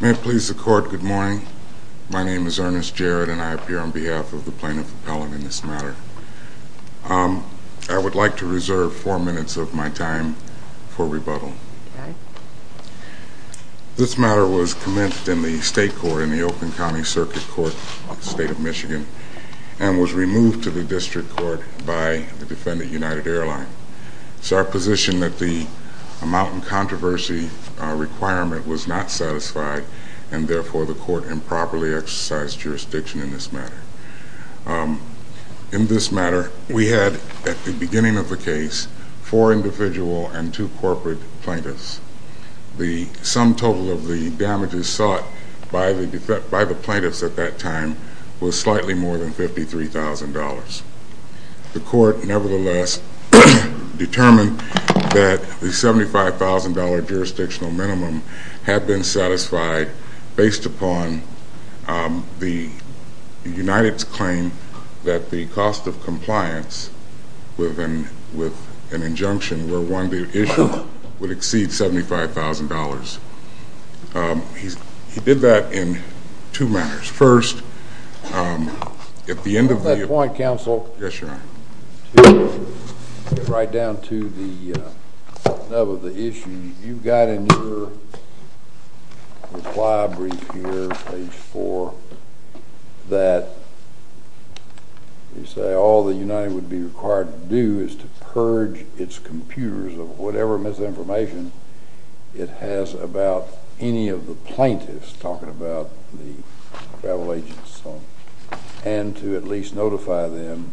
May it please the court, good morning. My name is Ernest Jarrett and I appear on behalf of the plaintiff appellant in this matter. I would like to reserve four minutes of my time for rebuttal. This matter was commenced in the state court in the Oakland County Circuit Court in the state of Michigan and was removed to the district court by the defendant United Airlines. It's our position that the amount of controversy requirement was not satisfied and therefore the court improperly exercised jurisdiction in this matter. In this matter we had at the beginning of the case four individual and two corporate plaintiffs. The sum total of the damages sought by the plaintiffs at that time was slightly more than $53,000. The court nevertheless determined that the $75,000 jurisdictional minimum had been satisfied based upon the United's claim that the cost of compliance with an injunction where one issue would exceed $75,000. He did that in two matters. First, at the end of Yes, Your Honor. To get right down to the nub of the issue, you've got in your reply brief here, page four, that you say all the United would be required to do is to purge its computers of whatever misinformation it has about any of the plaintiffs talking about the travel agents and so on, and to at least notify them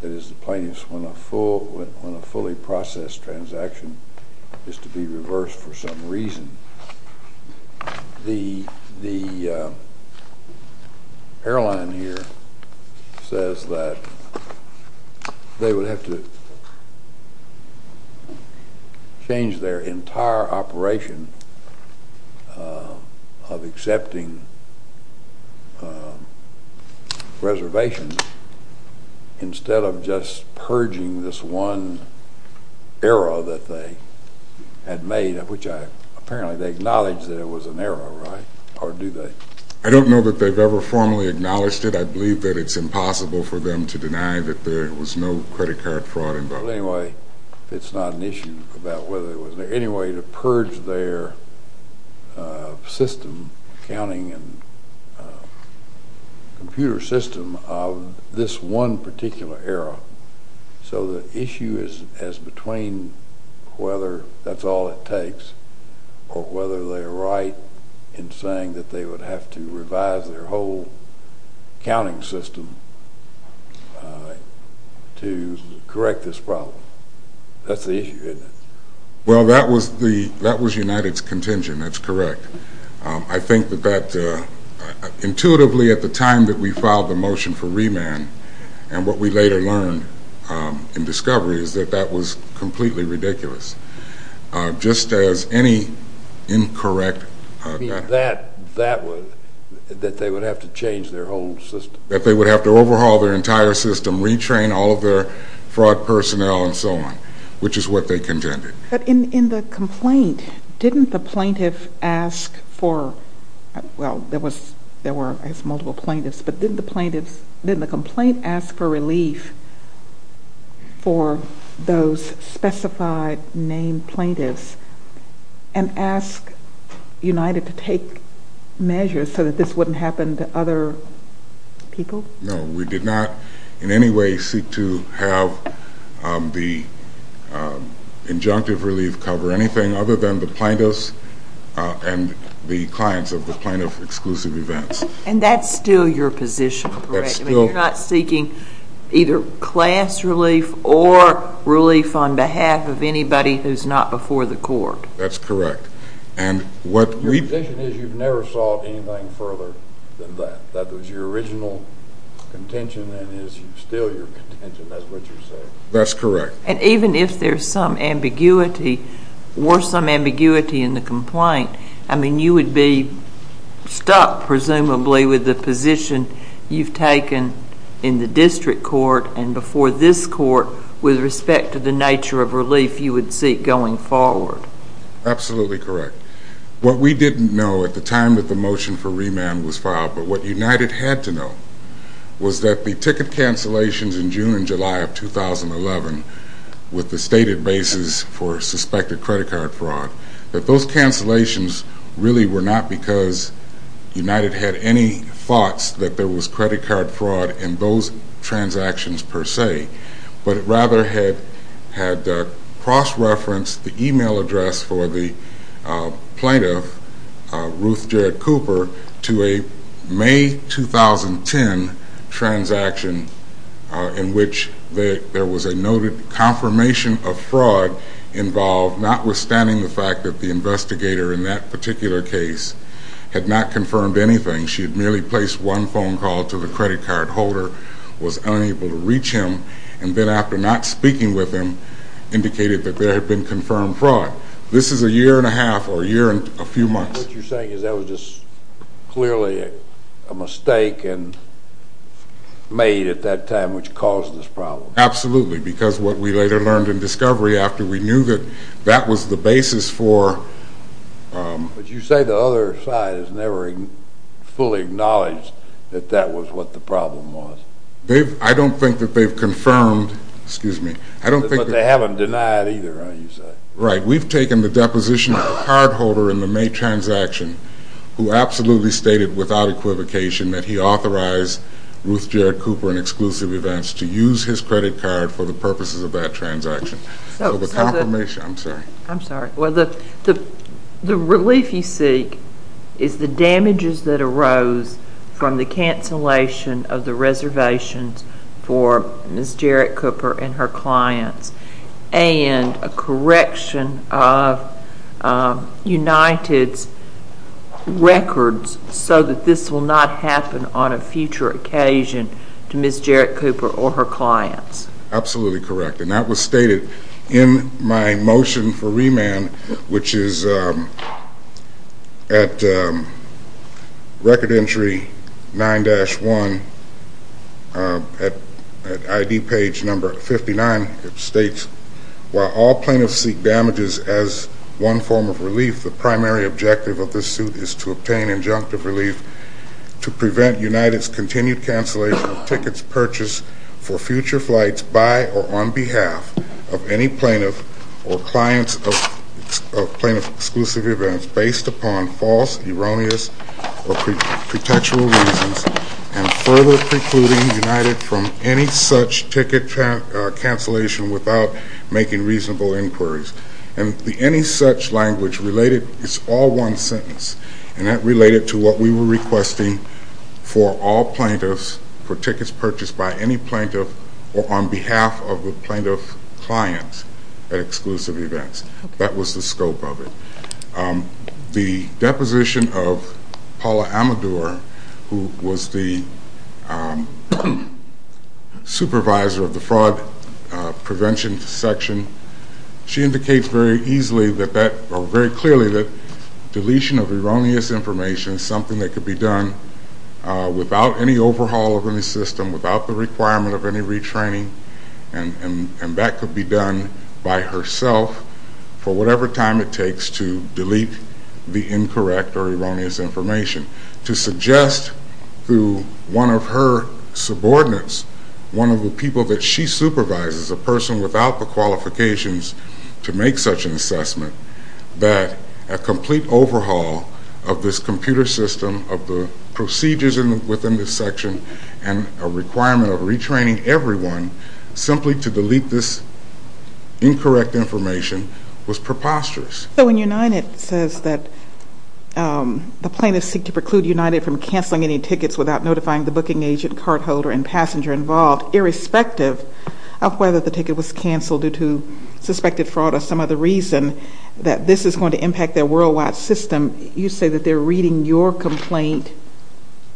that it is the plaintiffs when a fully processed transaction is to be reversed for some reason. The airline here says that they would have to change their entire operation of accepting reservations instead of just purging this one error that they had made, which apparently they acknowledge that it was an error, right? Or do they? I don't know that they've ever formally acknowledged it. I believe that it's impossible for them to deny that there was no credit card fraud involved. But anyway, it's not an issue about whether there was any way to purge their system, accounting and computer system of this one particular error. So the issue is as between whether that's all it takes or whether they're right in saying that they would have to revise their whole accounting system to correct this problem. That's the issue, isn't it? Well that was United's contingent, that's correct. I think that intuitively at the time that we filed the motion for remand, and what we later learned in discovery is that that was completely ridiculous. Just as any incorrect... You mean that they would have to change their whole system? That they would have to overhaul their entire system, retrain all of their fraud personnel and so on, which is what they contended. But in the complaint, didn't the plaintiff ask for, well there were I guess multiple plaintiffs, but didn't the plaintiff, didn't the complaint ask for relief for those specified named plaintiffs and ask United to take measures so that this wouldn't happen to other people? No, we did not in any way seek to have the injunctive relief cover anything other than the plaintiffs and the clients of the plaintiff-exclusive events. And that's still your position, correct? You're not seeking either class relief or relief on behalf of anybody who's not before the court? That's correct. And what we... Your position is you've never sought anything further than that. That was your original contention and is still your contention, that's what you're saying. That's correct. And even if there's some ambiguity, or some ambiguity in the complaint, I mean you would be stuck presumably with the position you've taken in the district court and before this court with respect to the nature of relief you would seek going forward. Absolutely correct. What we didn't know at the time that the motion for remand was filed, but what United had to know, was that the ticket cancellations in June and July of 2011 with the stated basis for suspected credit card fraud, that those cancellations really were not because United had any thoughts that there was credit card fraud in those transactions per se, but rather had cross-referenced the email address for the plaintiff, Ruth Jarrett Cooper, to a May 2010 transaction in which there was a noted confirmation of fraud involved, notwithstanding the fact that the investigator in that particular case had not confirmed anything. She had merely placed one phone call to the credit card holder, was unable to reach him, and then after not speaking with him, indicated that there had been confirmed fraud. This is a year and a half, or a year and a few months. What you're saying is that was just clearly a mistake made at that time which caused this problem. Absolutely, because what we later learned in discovery after we knew that that was the basis for... But you say the other side has never fully acknowledged that that was what the problem was. I don't think that they've confirmed, excuse me, I don't think that... But they haven't denied either, you say. Right, we've taken the deposition of the card holder in the May transaction who absolutely stated without equivocation that he authorized Ruth Jarrett Cooper and Exclusive Events to use his credit card for the purposes of that transaction. So the... I'm sorry. I'm sorry. Well, the relief you seek is the damages that arose from the cancellation of the reservations for Ms. Jarrett Cooper and her clients and a correction of United's records so that this will not happen on a future occasion to Ms. Jarrett Cooper or her clients. Absolutely correct. And that was stated in my motion for remand which is at Record Entry 9-1 at ID page number 59. It states, while all plaintiffs seek damages as one form of relief, the primary objective of this suit is to obtain injunctive relief to prevent United's continued cancellation of tickets purchased for future flights by or on behalf of any plaintiff or clients of plaintiff Exclusive Events based upon false, erroneous, or pretextual reasons and further precluding United from any such ticket cancellation without making reasonable inquiries. And the any such language related is all one sentence and that related to what we were for tickets purchased by any plaintiff or on behalf of the plaintiff clients at Exclusive Events. That was the scope of it. The deposition of Paula Amador, who was the supervisor of the Fraud Prevention Section, she indicates very easily that that, or very clearly that deletion of erroneous information is something that could be done without any overhaul of any system, without the requirement of any retraining, and that could be done by herself for whatever time it takes to delete the incorrect or erroneous information. To suggest to one of her subordinates, one of the people that she supervises, a person without the qualifications to make such an assessment, that a complete overhaul of this computer system, of the procedures within this section, and a requirement of retraining everyone simply to delete this incorrect information was preposterous. So when United says that the plaintiffs seek to preclude United from canceling any tickets without notifying the booking agent, cardholder, and passenger involved, irrespective of whether the ticket was canceled due to suspected fraud or some other reason, that this is going to your complaint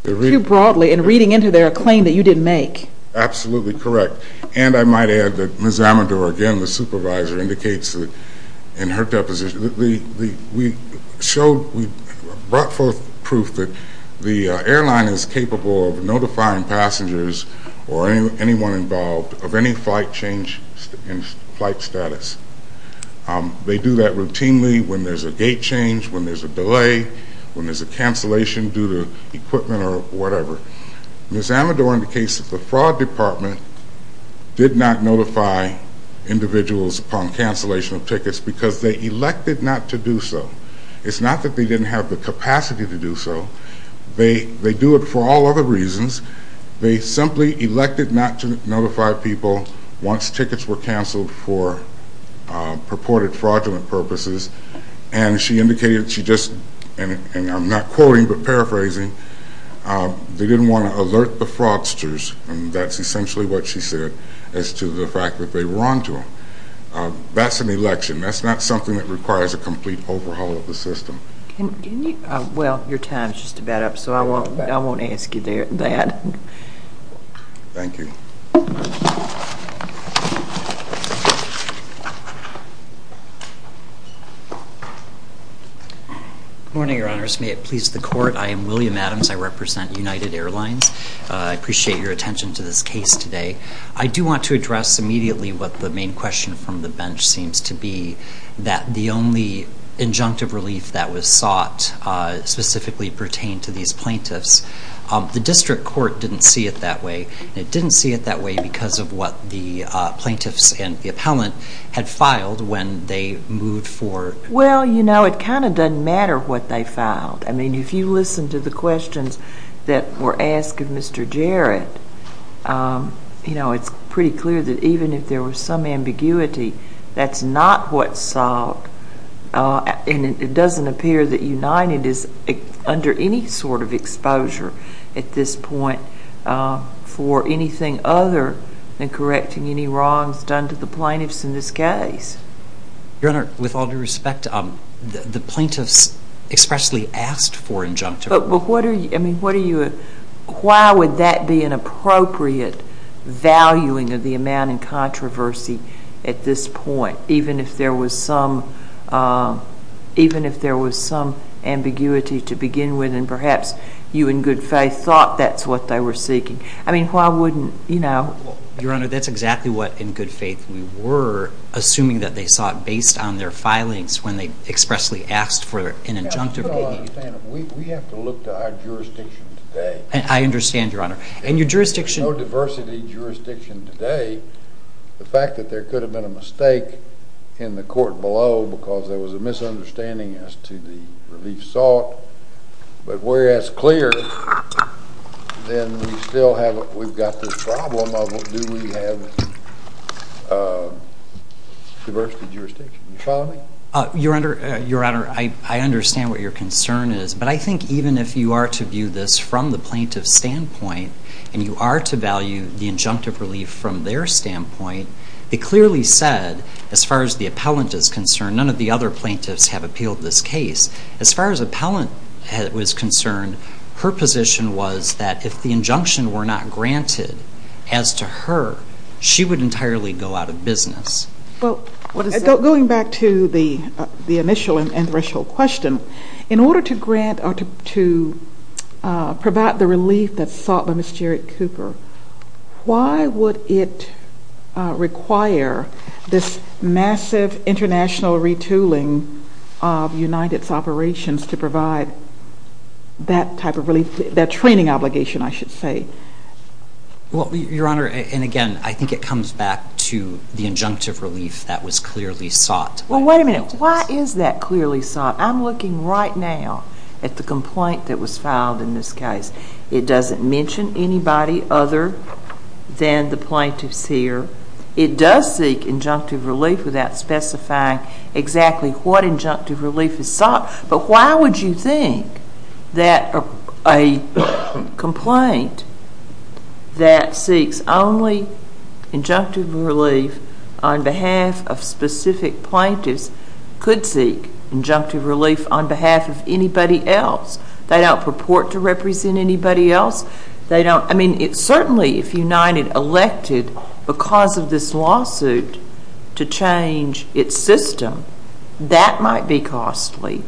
too broadly and reading into their claim that you didn't make. Absolutely correct. And I might add that Ms. Amador, again, the supervisor, indicates in her deposition, we showed, we brought forth proof that the airline is capable of notifying passengers or anyone involved of any flight change in flight status. They do that routinely when there's a gate change, when there's a delay, when there's a cancellation due to equipment or whatever. Ms. Amador indicates that the fraud department did not notify individuals upon cancellation of tickets because they elected not to do so. It's not that they didn't have the capacity to do so, they do it for all other reasons. They simply elected not to notify people once tickets were canceled for purported fraudulent purposes and she indicated she just, and I'm not quoting but paraphrasing, they didn't want to alert the fraudsters and that's essentially what she said as to the fact that they were onto them. That's an election, that's not something that requires a complete overhaul of the system. Can you, well, your time's just about up so I won't ask you that. Thank you. Good morning, Your Honors. May it please the Court, I am William Adams, I represent United Airlines. I appreciate your attention to this case today. I do want to address immediately what the main question from the bench seems to be, that the only injunctive relief that was sought specifically pertained to these plaintiffs. The district court didn't see it that way and it didn't see it that way because of what the plaintiffs and the appellant had filed when they moved forward. Well, you know, it kind of doesn't matter what they filed. I mean, if you listen to the questions that were asked of Mr. Jarrett, you know, it's pretty clear that even if there was some ambiguity, that's not what's sought and it doesn't appear that United is under any sort of exposure at this point for anything other than correcting any wrongs done to the plaintiffs in this case. Your Honor, with all due respect, the plaintiffs expressly asked for injunctive relief. But what are you, I mean, what are you, why would that be an appropriate valuing of the amount in controversy at this point, even if there was some, even if there was some ambiguity to begin with and perhaps you in good faith thought that's what they were seeking? I mean, why wouldn't, you know? Your Honor, that's exactly what, in good faith, we were assuming that they sought based on their filings when they expressly asked for an injunctive relief. Your Honor, we have to look to our jurisdiction today. I understand, Your Honor. And your jurisdiction... If there's no diversity jurisdiction today, the fact that there could have been a mistake in the court below because there was a misunderstanding as to the relief sought, but we're as clear, then we still have, we've got this problem of do we have diversity jurisdiction. You follow me? Your Honor, I understand what your concern is, but I think even if you are to view this from the plaintiff's standpoint and you are to value the injunctive relief from their standpoint, it clearly said, as far as the appellant is concerned, none of the other plaintiffs have appealed this case. As far as the appellant was concerned, her position was that if the injunction were not granted as to her, she would entirely go out of business. Well, going back to the initial and threshold question, in order to grant or to provide the relief that's sought by Ms. Jarrett Cooper, why would it require this massive international retooling of United's operations to provide that type of relief, that training obligation, I should say? Well, Your Honor, and again, I think it comes back to the injunctive relief that was clearly sought by the plaintiffs. Well, wait a minute. Why is that clearly sought? I'm looking right now at the complaint that was filed in this case. It doesn't mention anybody other than the plaintiffs here. It does seek injunctive relief without specifying exactly what injunctive relief is sought, but why would you think that a complaint that seeks only injunctive relief on behalf of specific plaintiffs could seek injunctive relief on behalf of anybody else? They don't purport to represent anybody else. I mean, certainly if United elected, because of this lawsuit, to change its system, that might be costly,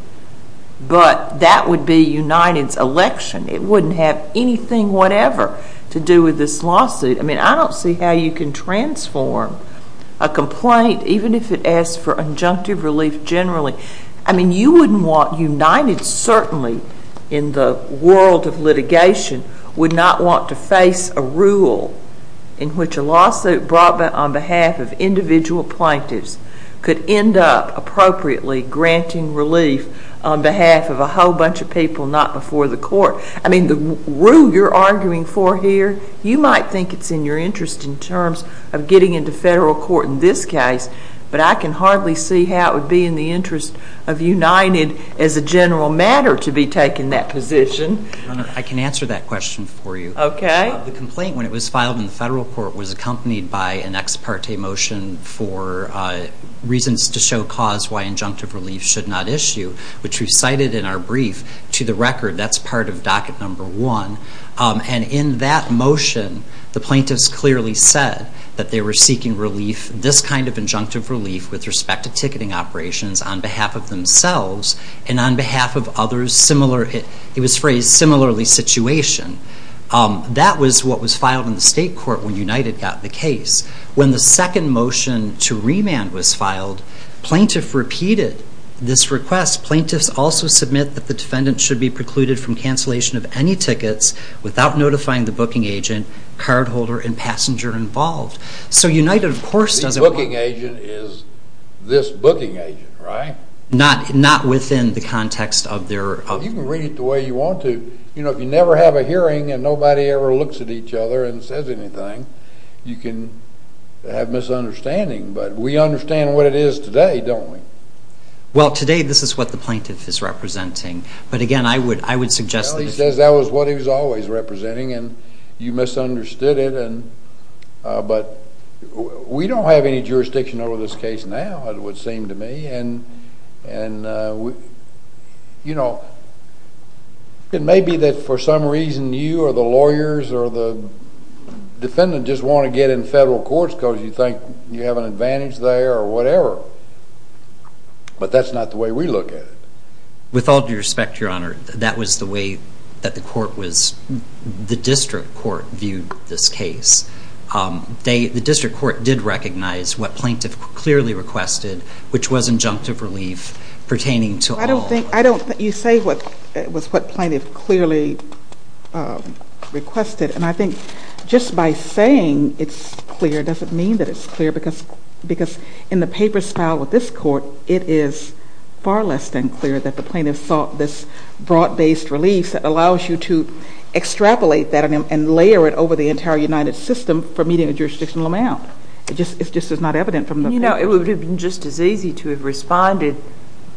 but that would be United's election. It wouldn't have anything whatever to do with this lawsuit. I mean, I don't see how you can transform a complaint, even if it asks for injunctive relief generally. I mean, you wouldn't want United, certainly in the world of litigation, would not want to face a rule in which a lawsuit brought on behalf of individual plaintiffs could end up appropriately granting relief on behalf of a whole bunch of people not before the court. I mean, the rule you're arguing for here, you might think it's in your interest in terms of getting into federal court in this case, but I can hardly see how it would be in the interest of United as a general matter to be taking that position. Your Honor, I can answer that question for you. Okay. The complaint, when it was filed in the federal court, was accompanied by an ex parte motion for reasons to show cause why injunctive relief should not issue, which we cited in our brief to the record. That's part of docket number one. And in that motion, the plaintiffs clearly said that they were seeking relief, this kind of injunctive relief, with respect to ticketing operations on behalf of themselves and on behalf of others similar, it was phrased similarly situation. That was what was filed in the state court when United got the case. When the second motion to remand was filed, plaintiff repeated this request. Plaintiffs also submit that the defendant should be precluded from cancellation of any tickets without notifying the booking agent, cardholder, and passenger involved. So United, of course, doesn't want... The booking agent is this booking agent, right? Not within the context of their... You can read it the way you want to. You know, if you never have a hearing and nobody ever looks at each other and says anything, you can have misunderstanding, but we understand what it is today, don't we? Well, today this is what the plaintiff is representing, but again, I would suggest that... Well, he says that was what he was always representing, and you misunderstood it, but we don't have any jurisdiction over this case now, it would seem to me, and, you know, it doesn't just want to get in federal courts because you think you have an advantage there or whatever, but that's not the way we look at it. With all due respect, Your Honor, that was the way that the court was... The district court viewed this case. The district court did recognize what plaintiff clearly requested, which was injunctive relief pertaining to all... I don't think... You say it was what plaintiff clearly requested, and I think just by saying it's clear doesn't mean that it's clear, because in the papers filed with this court, it is far less than clear that the plaintiff sought this broad-based relief that allows you to extrapolate that and layer it over the entire United System for a medium or jurisdictional amount. It just is not evident from the plaintiff's... You know, it would have been just as easy to have responded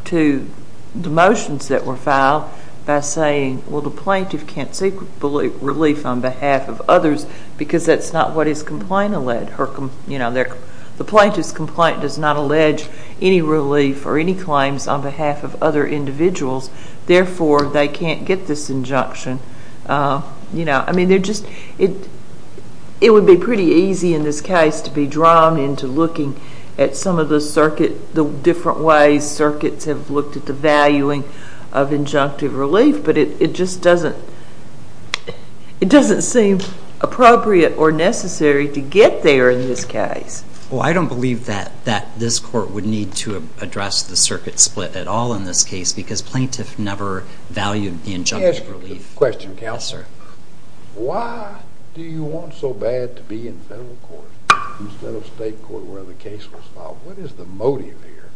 to the motions that were filed by saying, well, the plaintiff can't seek relief on behalf of others because that's not what his complaint alleged, or, you know, the plaintiff's complaint does not allege any relief or any claims on behalf of other individuals, therefore they can't get this injunction. You know, I mean, they're just... And it would be pretty easy in this case to be drawn into looking at some of the circuit, the different ways circuits have looked at the valuing of injunctive relief, but it just doesn't... It doesn't seem appropriate or necessary to get there in this case. Well, I don't believe that this court would need to address the circuit split at all in this case, because plaintiff never valued the injunctive relief. Question, Counselor. Yes, sir. Why do you want so bad to be in federal court instead of state court where the case was filed? What is the motive here?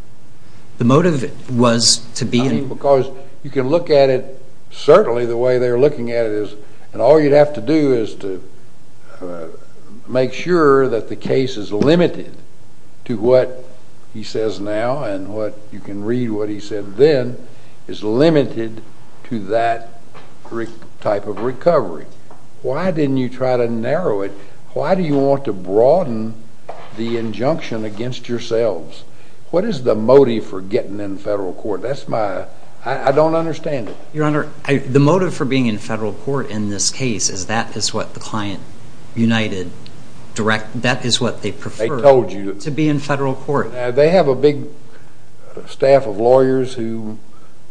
The motive was to be in... Because you can look at it, certainly the way they're looking at it is, and all you'd have to do is to make sure that the case is limited to what he says now and what you can to that type of recovery. Why didn't you try to narrow it? Why do you want to broaden the injunction against yourselves? What is the motive for getting in federal court? That's my... I don't understand it. Your Honor, the motive for being in federal court in this case is that is what the client united, direct... That is what they prefer. They told you. To be in federal court. They have a big staff of lawyers who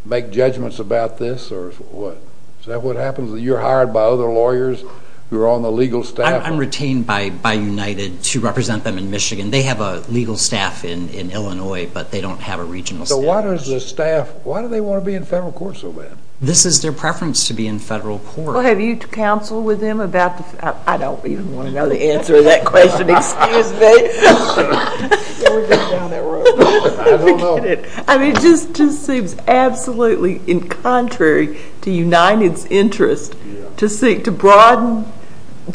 make judgments about this or what? Is that what happens? You're hired by other lawyers who are on the legal staff? I'm retained by United to represent them in Michigan. They have a legal staff in Illinois, but they don't have a regional staff. So why does the staff, why do they want to be in federal court so bad? This is their preference to be in federal court. Well, have you counseled with them about the... I don't even want to know the answer to that question. Excuse me. I don't know. I mean, it just seems absolutely in contrary to United's interest to seek to broaden...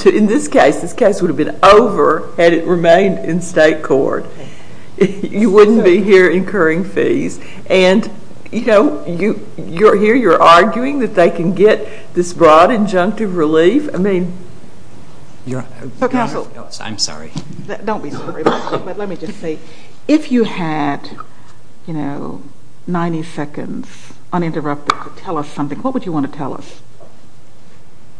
In this case, this case would have been over had it remained in state court. You wouldn't be here incurring fees. And you know, you're here, you're arguing that they can get this broad injunctive relief. I mean, you're... Counsel. I'm sorry. Don't be sorry. But let me just say, if you had, you know, 90 seconds uninterrupted to tell us something, what would you want to tell us?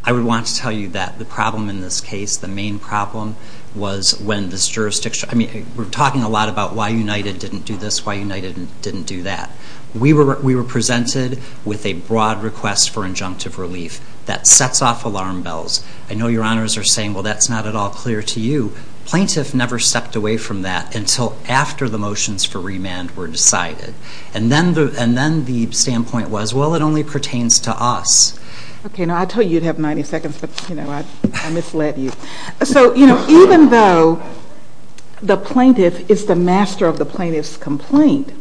I would want to tell you that the problem in this case, the main problem was when this jurisdiction... I mean, we're talking a lot about why United didn't do this, why United didn't do that. We were presented with a broad request for injunctive relief that sets off alarm bells. I know your honors are saying, well, that's not at all clear to you. Plaintiff never stepped away from that until after the motions for remand were decided. And then the standpoint was, well, it only pertains to us. Okay. Now, I told you you'd have 90 seconds, but, you know, I misled you. So, you know, even though the plaintiff is the master of the plaintiff's complaint,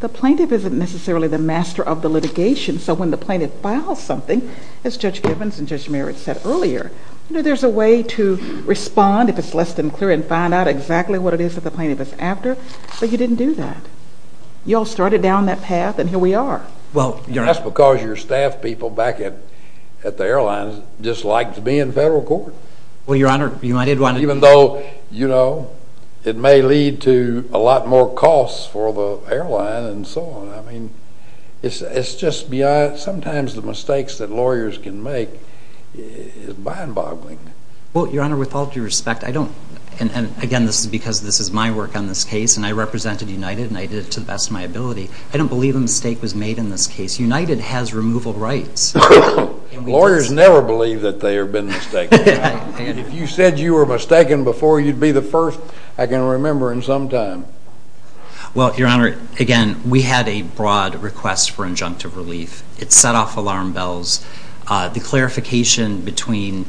the plaintiff isn't necessarily the master of the litigation. So when the plaintiff files something, as Judge Givens and Judge Merritt said earlier, you know, there's a way to respond if it's less than clear and find out exactly what it is that the plaintiff is after, but you didn't do that. You all started down that path, and here we are. Well, that's because your staff people back at the airlines just like to be in federal court. Well, your honor, you know, I did want to... Even though, you know, it may lead to a lot more costs for the airline and so on, I mean, it's just beyond, sometimes the mistakes that lawyers can make is mind-boggling. Well, your honor, with all due respect, I don't, and again, this is because this is my work on this case, and I represented United, and I did it to the best of my ability. I don't believe a mistake was made in this case. United has removal rights. Lawyers never believe that they have been mistaken. If you said you were mistaken before, you'd be the first I can remember in some time. Well, your honor, again, we had a broad request for injunctive relief. It set off alarm bells. The clarification between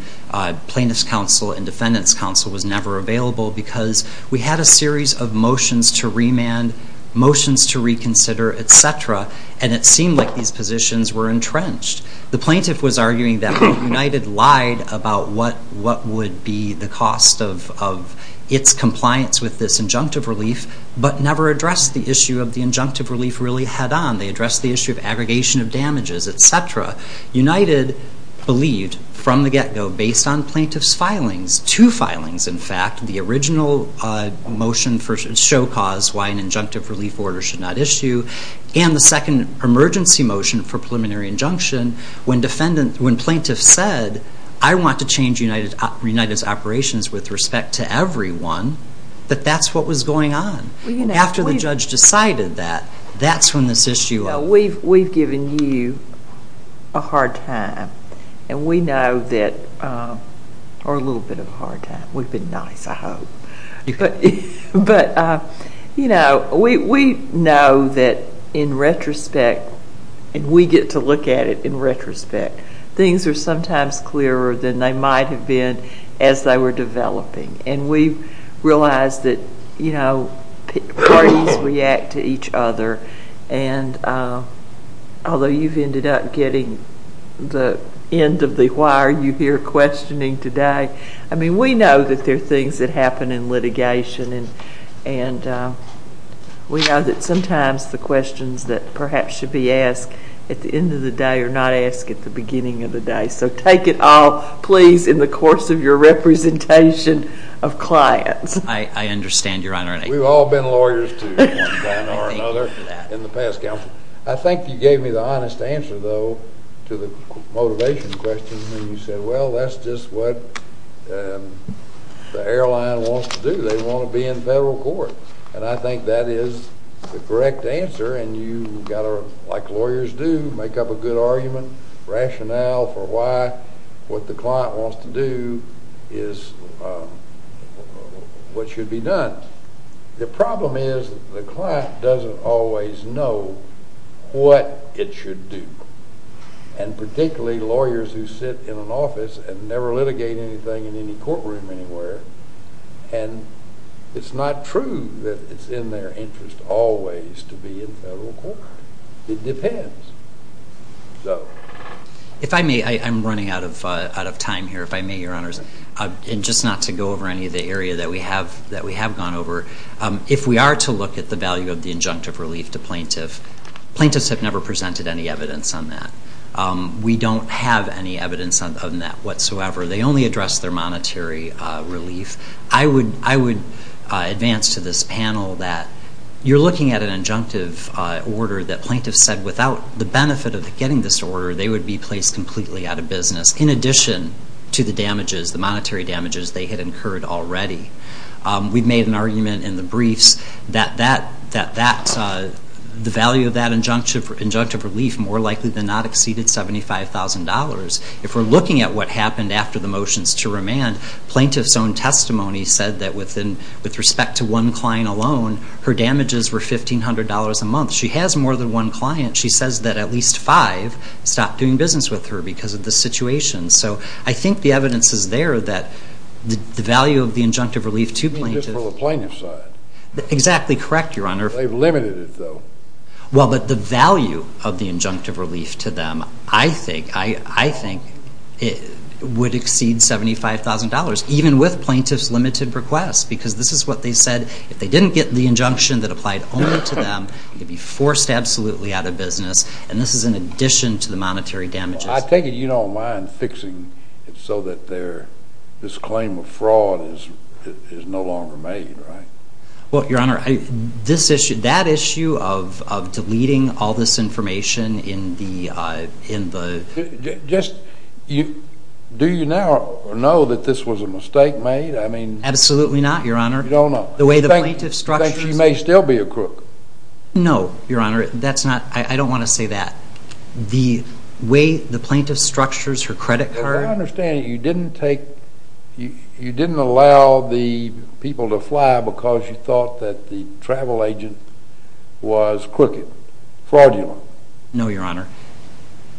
plaintiff's counsel and defendant's counsel was never available because we had a series of motions to remand, motions to reconsider, et cetera, and it seemed like these positions were entrenched. The plaintiff was arguing that United lied about what would be the cost of its compliance with this injunctive relief, but never addressed the issue of the injunctive relief really head-on. They addressed the issue of aggregation of damages, et cetera. United believed, from the get-go, based on plaintiff's filings, two filings, in fact, the original motion for show cause, why an injunctive relief order should not issue, and the second emergency motion for preliminary injunction, when plaintiff said, I want to change United's operations with respect to everyone, that that's what was going on. After the judge decided that, that's when this issue... We've given you a hard time, and we know that... Or a little bit of a hard time. We've been nice, I hope. But, you know, we know that in retrospect, and we get to look at it in retrospect, things are sometimes clearer than they might have been as they were developing, and we realize that parties react to each other, and although you've ended up getting the end of the Why are you here questioning today? I mean, we know that there are things that happen in litigation, and we know that sometimes the questions that perhaps should be asked at the end of the day are not asked at the beginning of the day. So take it all, please, in the course of your representation of clients. I understand, Your Honor. We've all been lawyers to one kind or another in the past, Counsel. I think you gave me the honest answer, though, to the motivation question when you said, Well, that's just what the airline wants to do. They want to be in federal court. And I think that is the correct answer, and you've got to, like lawyers do, make up a good argument, rationale for why what the client wants to do is what should be done. The problem is the client doesn't always know what it should do, and particularly lawyers who sit in an office and never litigate anything in any courtroom anywhere. And it's not true that it's in their interest always to be in federal court. It depends. If I may, I'm running out of time here. If I may, Your Honors, and just not to go over any of the area that we have gone over, if we are to look at the value of the injunctive relief to plaintiffs, plaintiffs have never presented any evidence on that. We don't have any evidence of that whatsoever. They only address their monetary relief. I would advance to this panel that you're looking at an injunctive order that plaintiffs said, without the benefit of getting this order, they would be placed completely out of business. In addition to the damages, the monetary damages they had incurred already. We've made an argument in the briefs that the value of that injunctive relief more likely than not exceeded $75,000. If we're looking at what happened after the motions to remand, plaintiffs' own testimony said that with respect to one client alone, her damages were $1,500 a month. She has more than one client. She says that at least five stopped doing business with her because of the situation. So I think the evidence is there that the value of the injunctive relief to plaintiffs. You mean just for the plaintiff's side? Exactly correct, Your Honor. They've limited it, though. Well, but the value of the injunctive relief to them, I think, would exceed $75,000, even with plaintiffs' limited requests, because this is what they said. If they didn't get the injunction that applied only to them, they'd be forced absolutely out of business. And this is in addition to the monetary damages. I take it you don't mind fixing it so that this claim of fraud is no longer made, right? Well, Your Honor, that issue of deleting all this information in the… Do you now know that this was a mistake made? Absolutely not, Your Honor. You don't know? You think she may still be a crook? No, Your Honor. I don't want to say that. The way the plaintiff structures her credit card… As I understand it, you didn't allow the people to fly because you thought that the travel agent was crooked, fraudulent. No, Your Honor.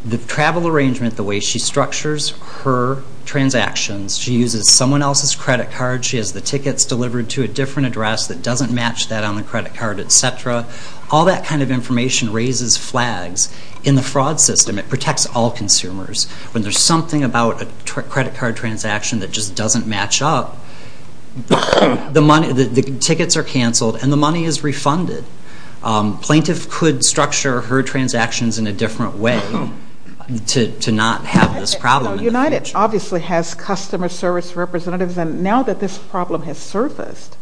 The travel arrangement, the way she structures her transactions, she uses someone else's credit card, she has the tickets delivered to a different address that doesn't match that on the credit card, et cetera. All that kind of information raises flags in the fraud system. It protects all consumers. When there's something about a credit card transaction that just doesn't match up, the tickets are canceled and the money is refunded. Plaintiff could structure her transactions in a different way to not have this problem. United obviously has customer service representatives, and now that this problem has surfaced,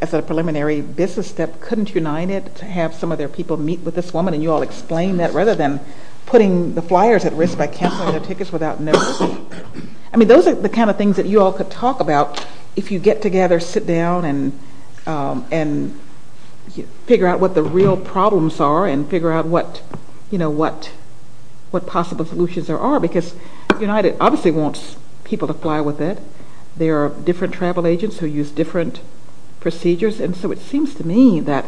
as a preliminary business step, couldn't United have some of their people meet with this woman and you all explain that rather than putting the flyers at risk by canceling their tickets without notice? Those are the kind of things that you all could talk about if you get together, sit down, and figure out what the real problems are and figure out what possible solutions there are, because United obviously wants people to fly with it. There are different travel agents who use different procedures, and so it seems to me that,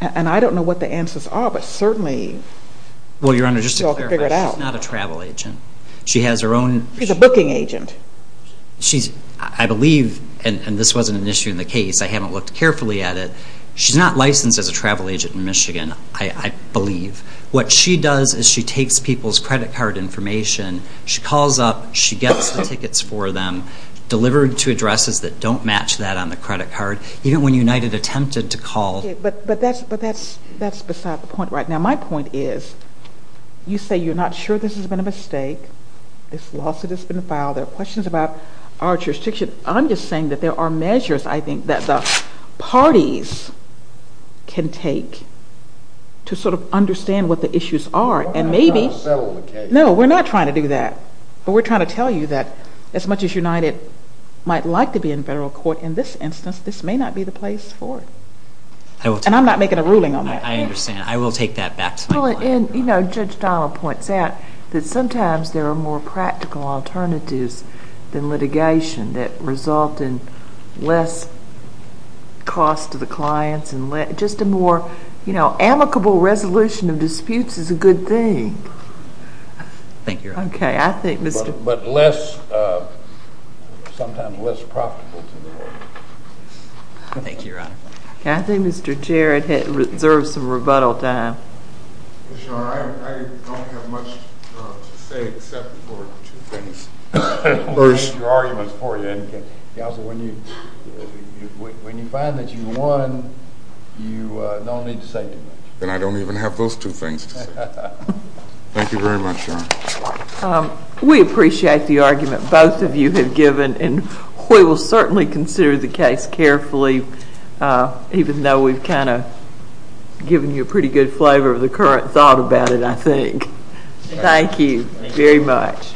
and I don't know what the answers are, but certainly you all could figure it out. Well, Your Honor, just to clarify, she's not a travel agent. She has her own. She's a booking agent. I believe, and this wasn't an issue in the case, I haven't looked carefully at it, she's not licensed as a travel agent in Michigan, I believe. What she does is she takes people's credit card information, she calls up, she gets the tickets for them, delivered to addresses that don't match that on the credit card, even when United attempted to call. But that's beside the point right now. My point is, you say you're not sure this has been a mistake, this lawsuit has been filed, there are questions about our jurisdiction. I'm just saying that there are measures, I think, that the parties can take to sort of understand what the issues are. We're not trying to settle the case. No, we're not trying to do that. But we're trying to tell you that as much as United might like to be in federal court, in this instance, this may not be the place for it. And I'm not making a ruling on that. I understand. I will take that back to my lawyer. Well, and, you know, Judge Donnell points out that sometimes there are more practical alternatives than litigation that result in less cost to the clients and just a more amicable resolution of disputes is a good thing. Thank you, Your Honor. Okay, I think Mr. But less, sometimes less profitable to the lawyer. Thank you, Your Honor. Okay, I think Mr. Jarrett has reserved some rebuttal time. Your Honor, I don't have much to say except for two things. First, your argument is for you. When you find that you won, you don't need to say too much. Then I don't even have those two things to say. Thank you very much, Your Honor. We appreciate the argument both of you have given, and we will certainly consider the case carefully, even though we've kind of given you a pretty good flavor of the current thought about it, I think. Thank you very much.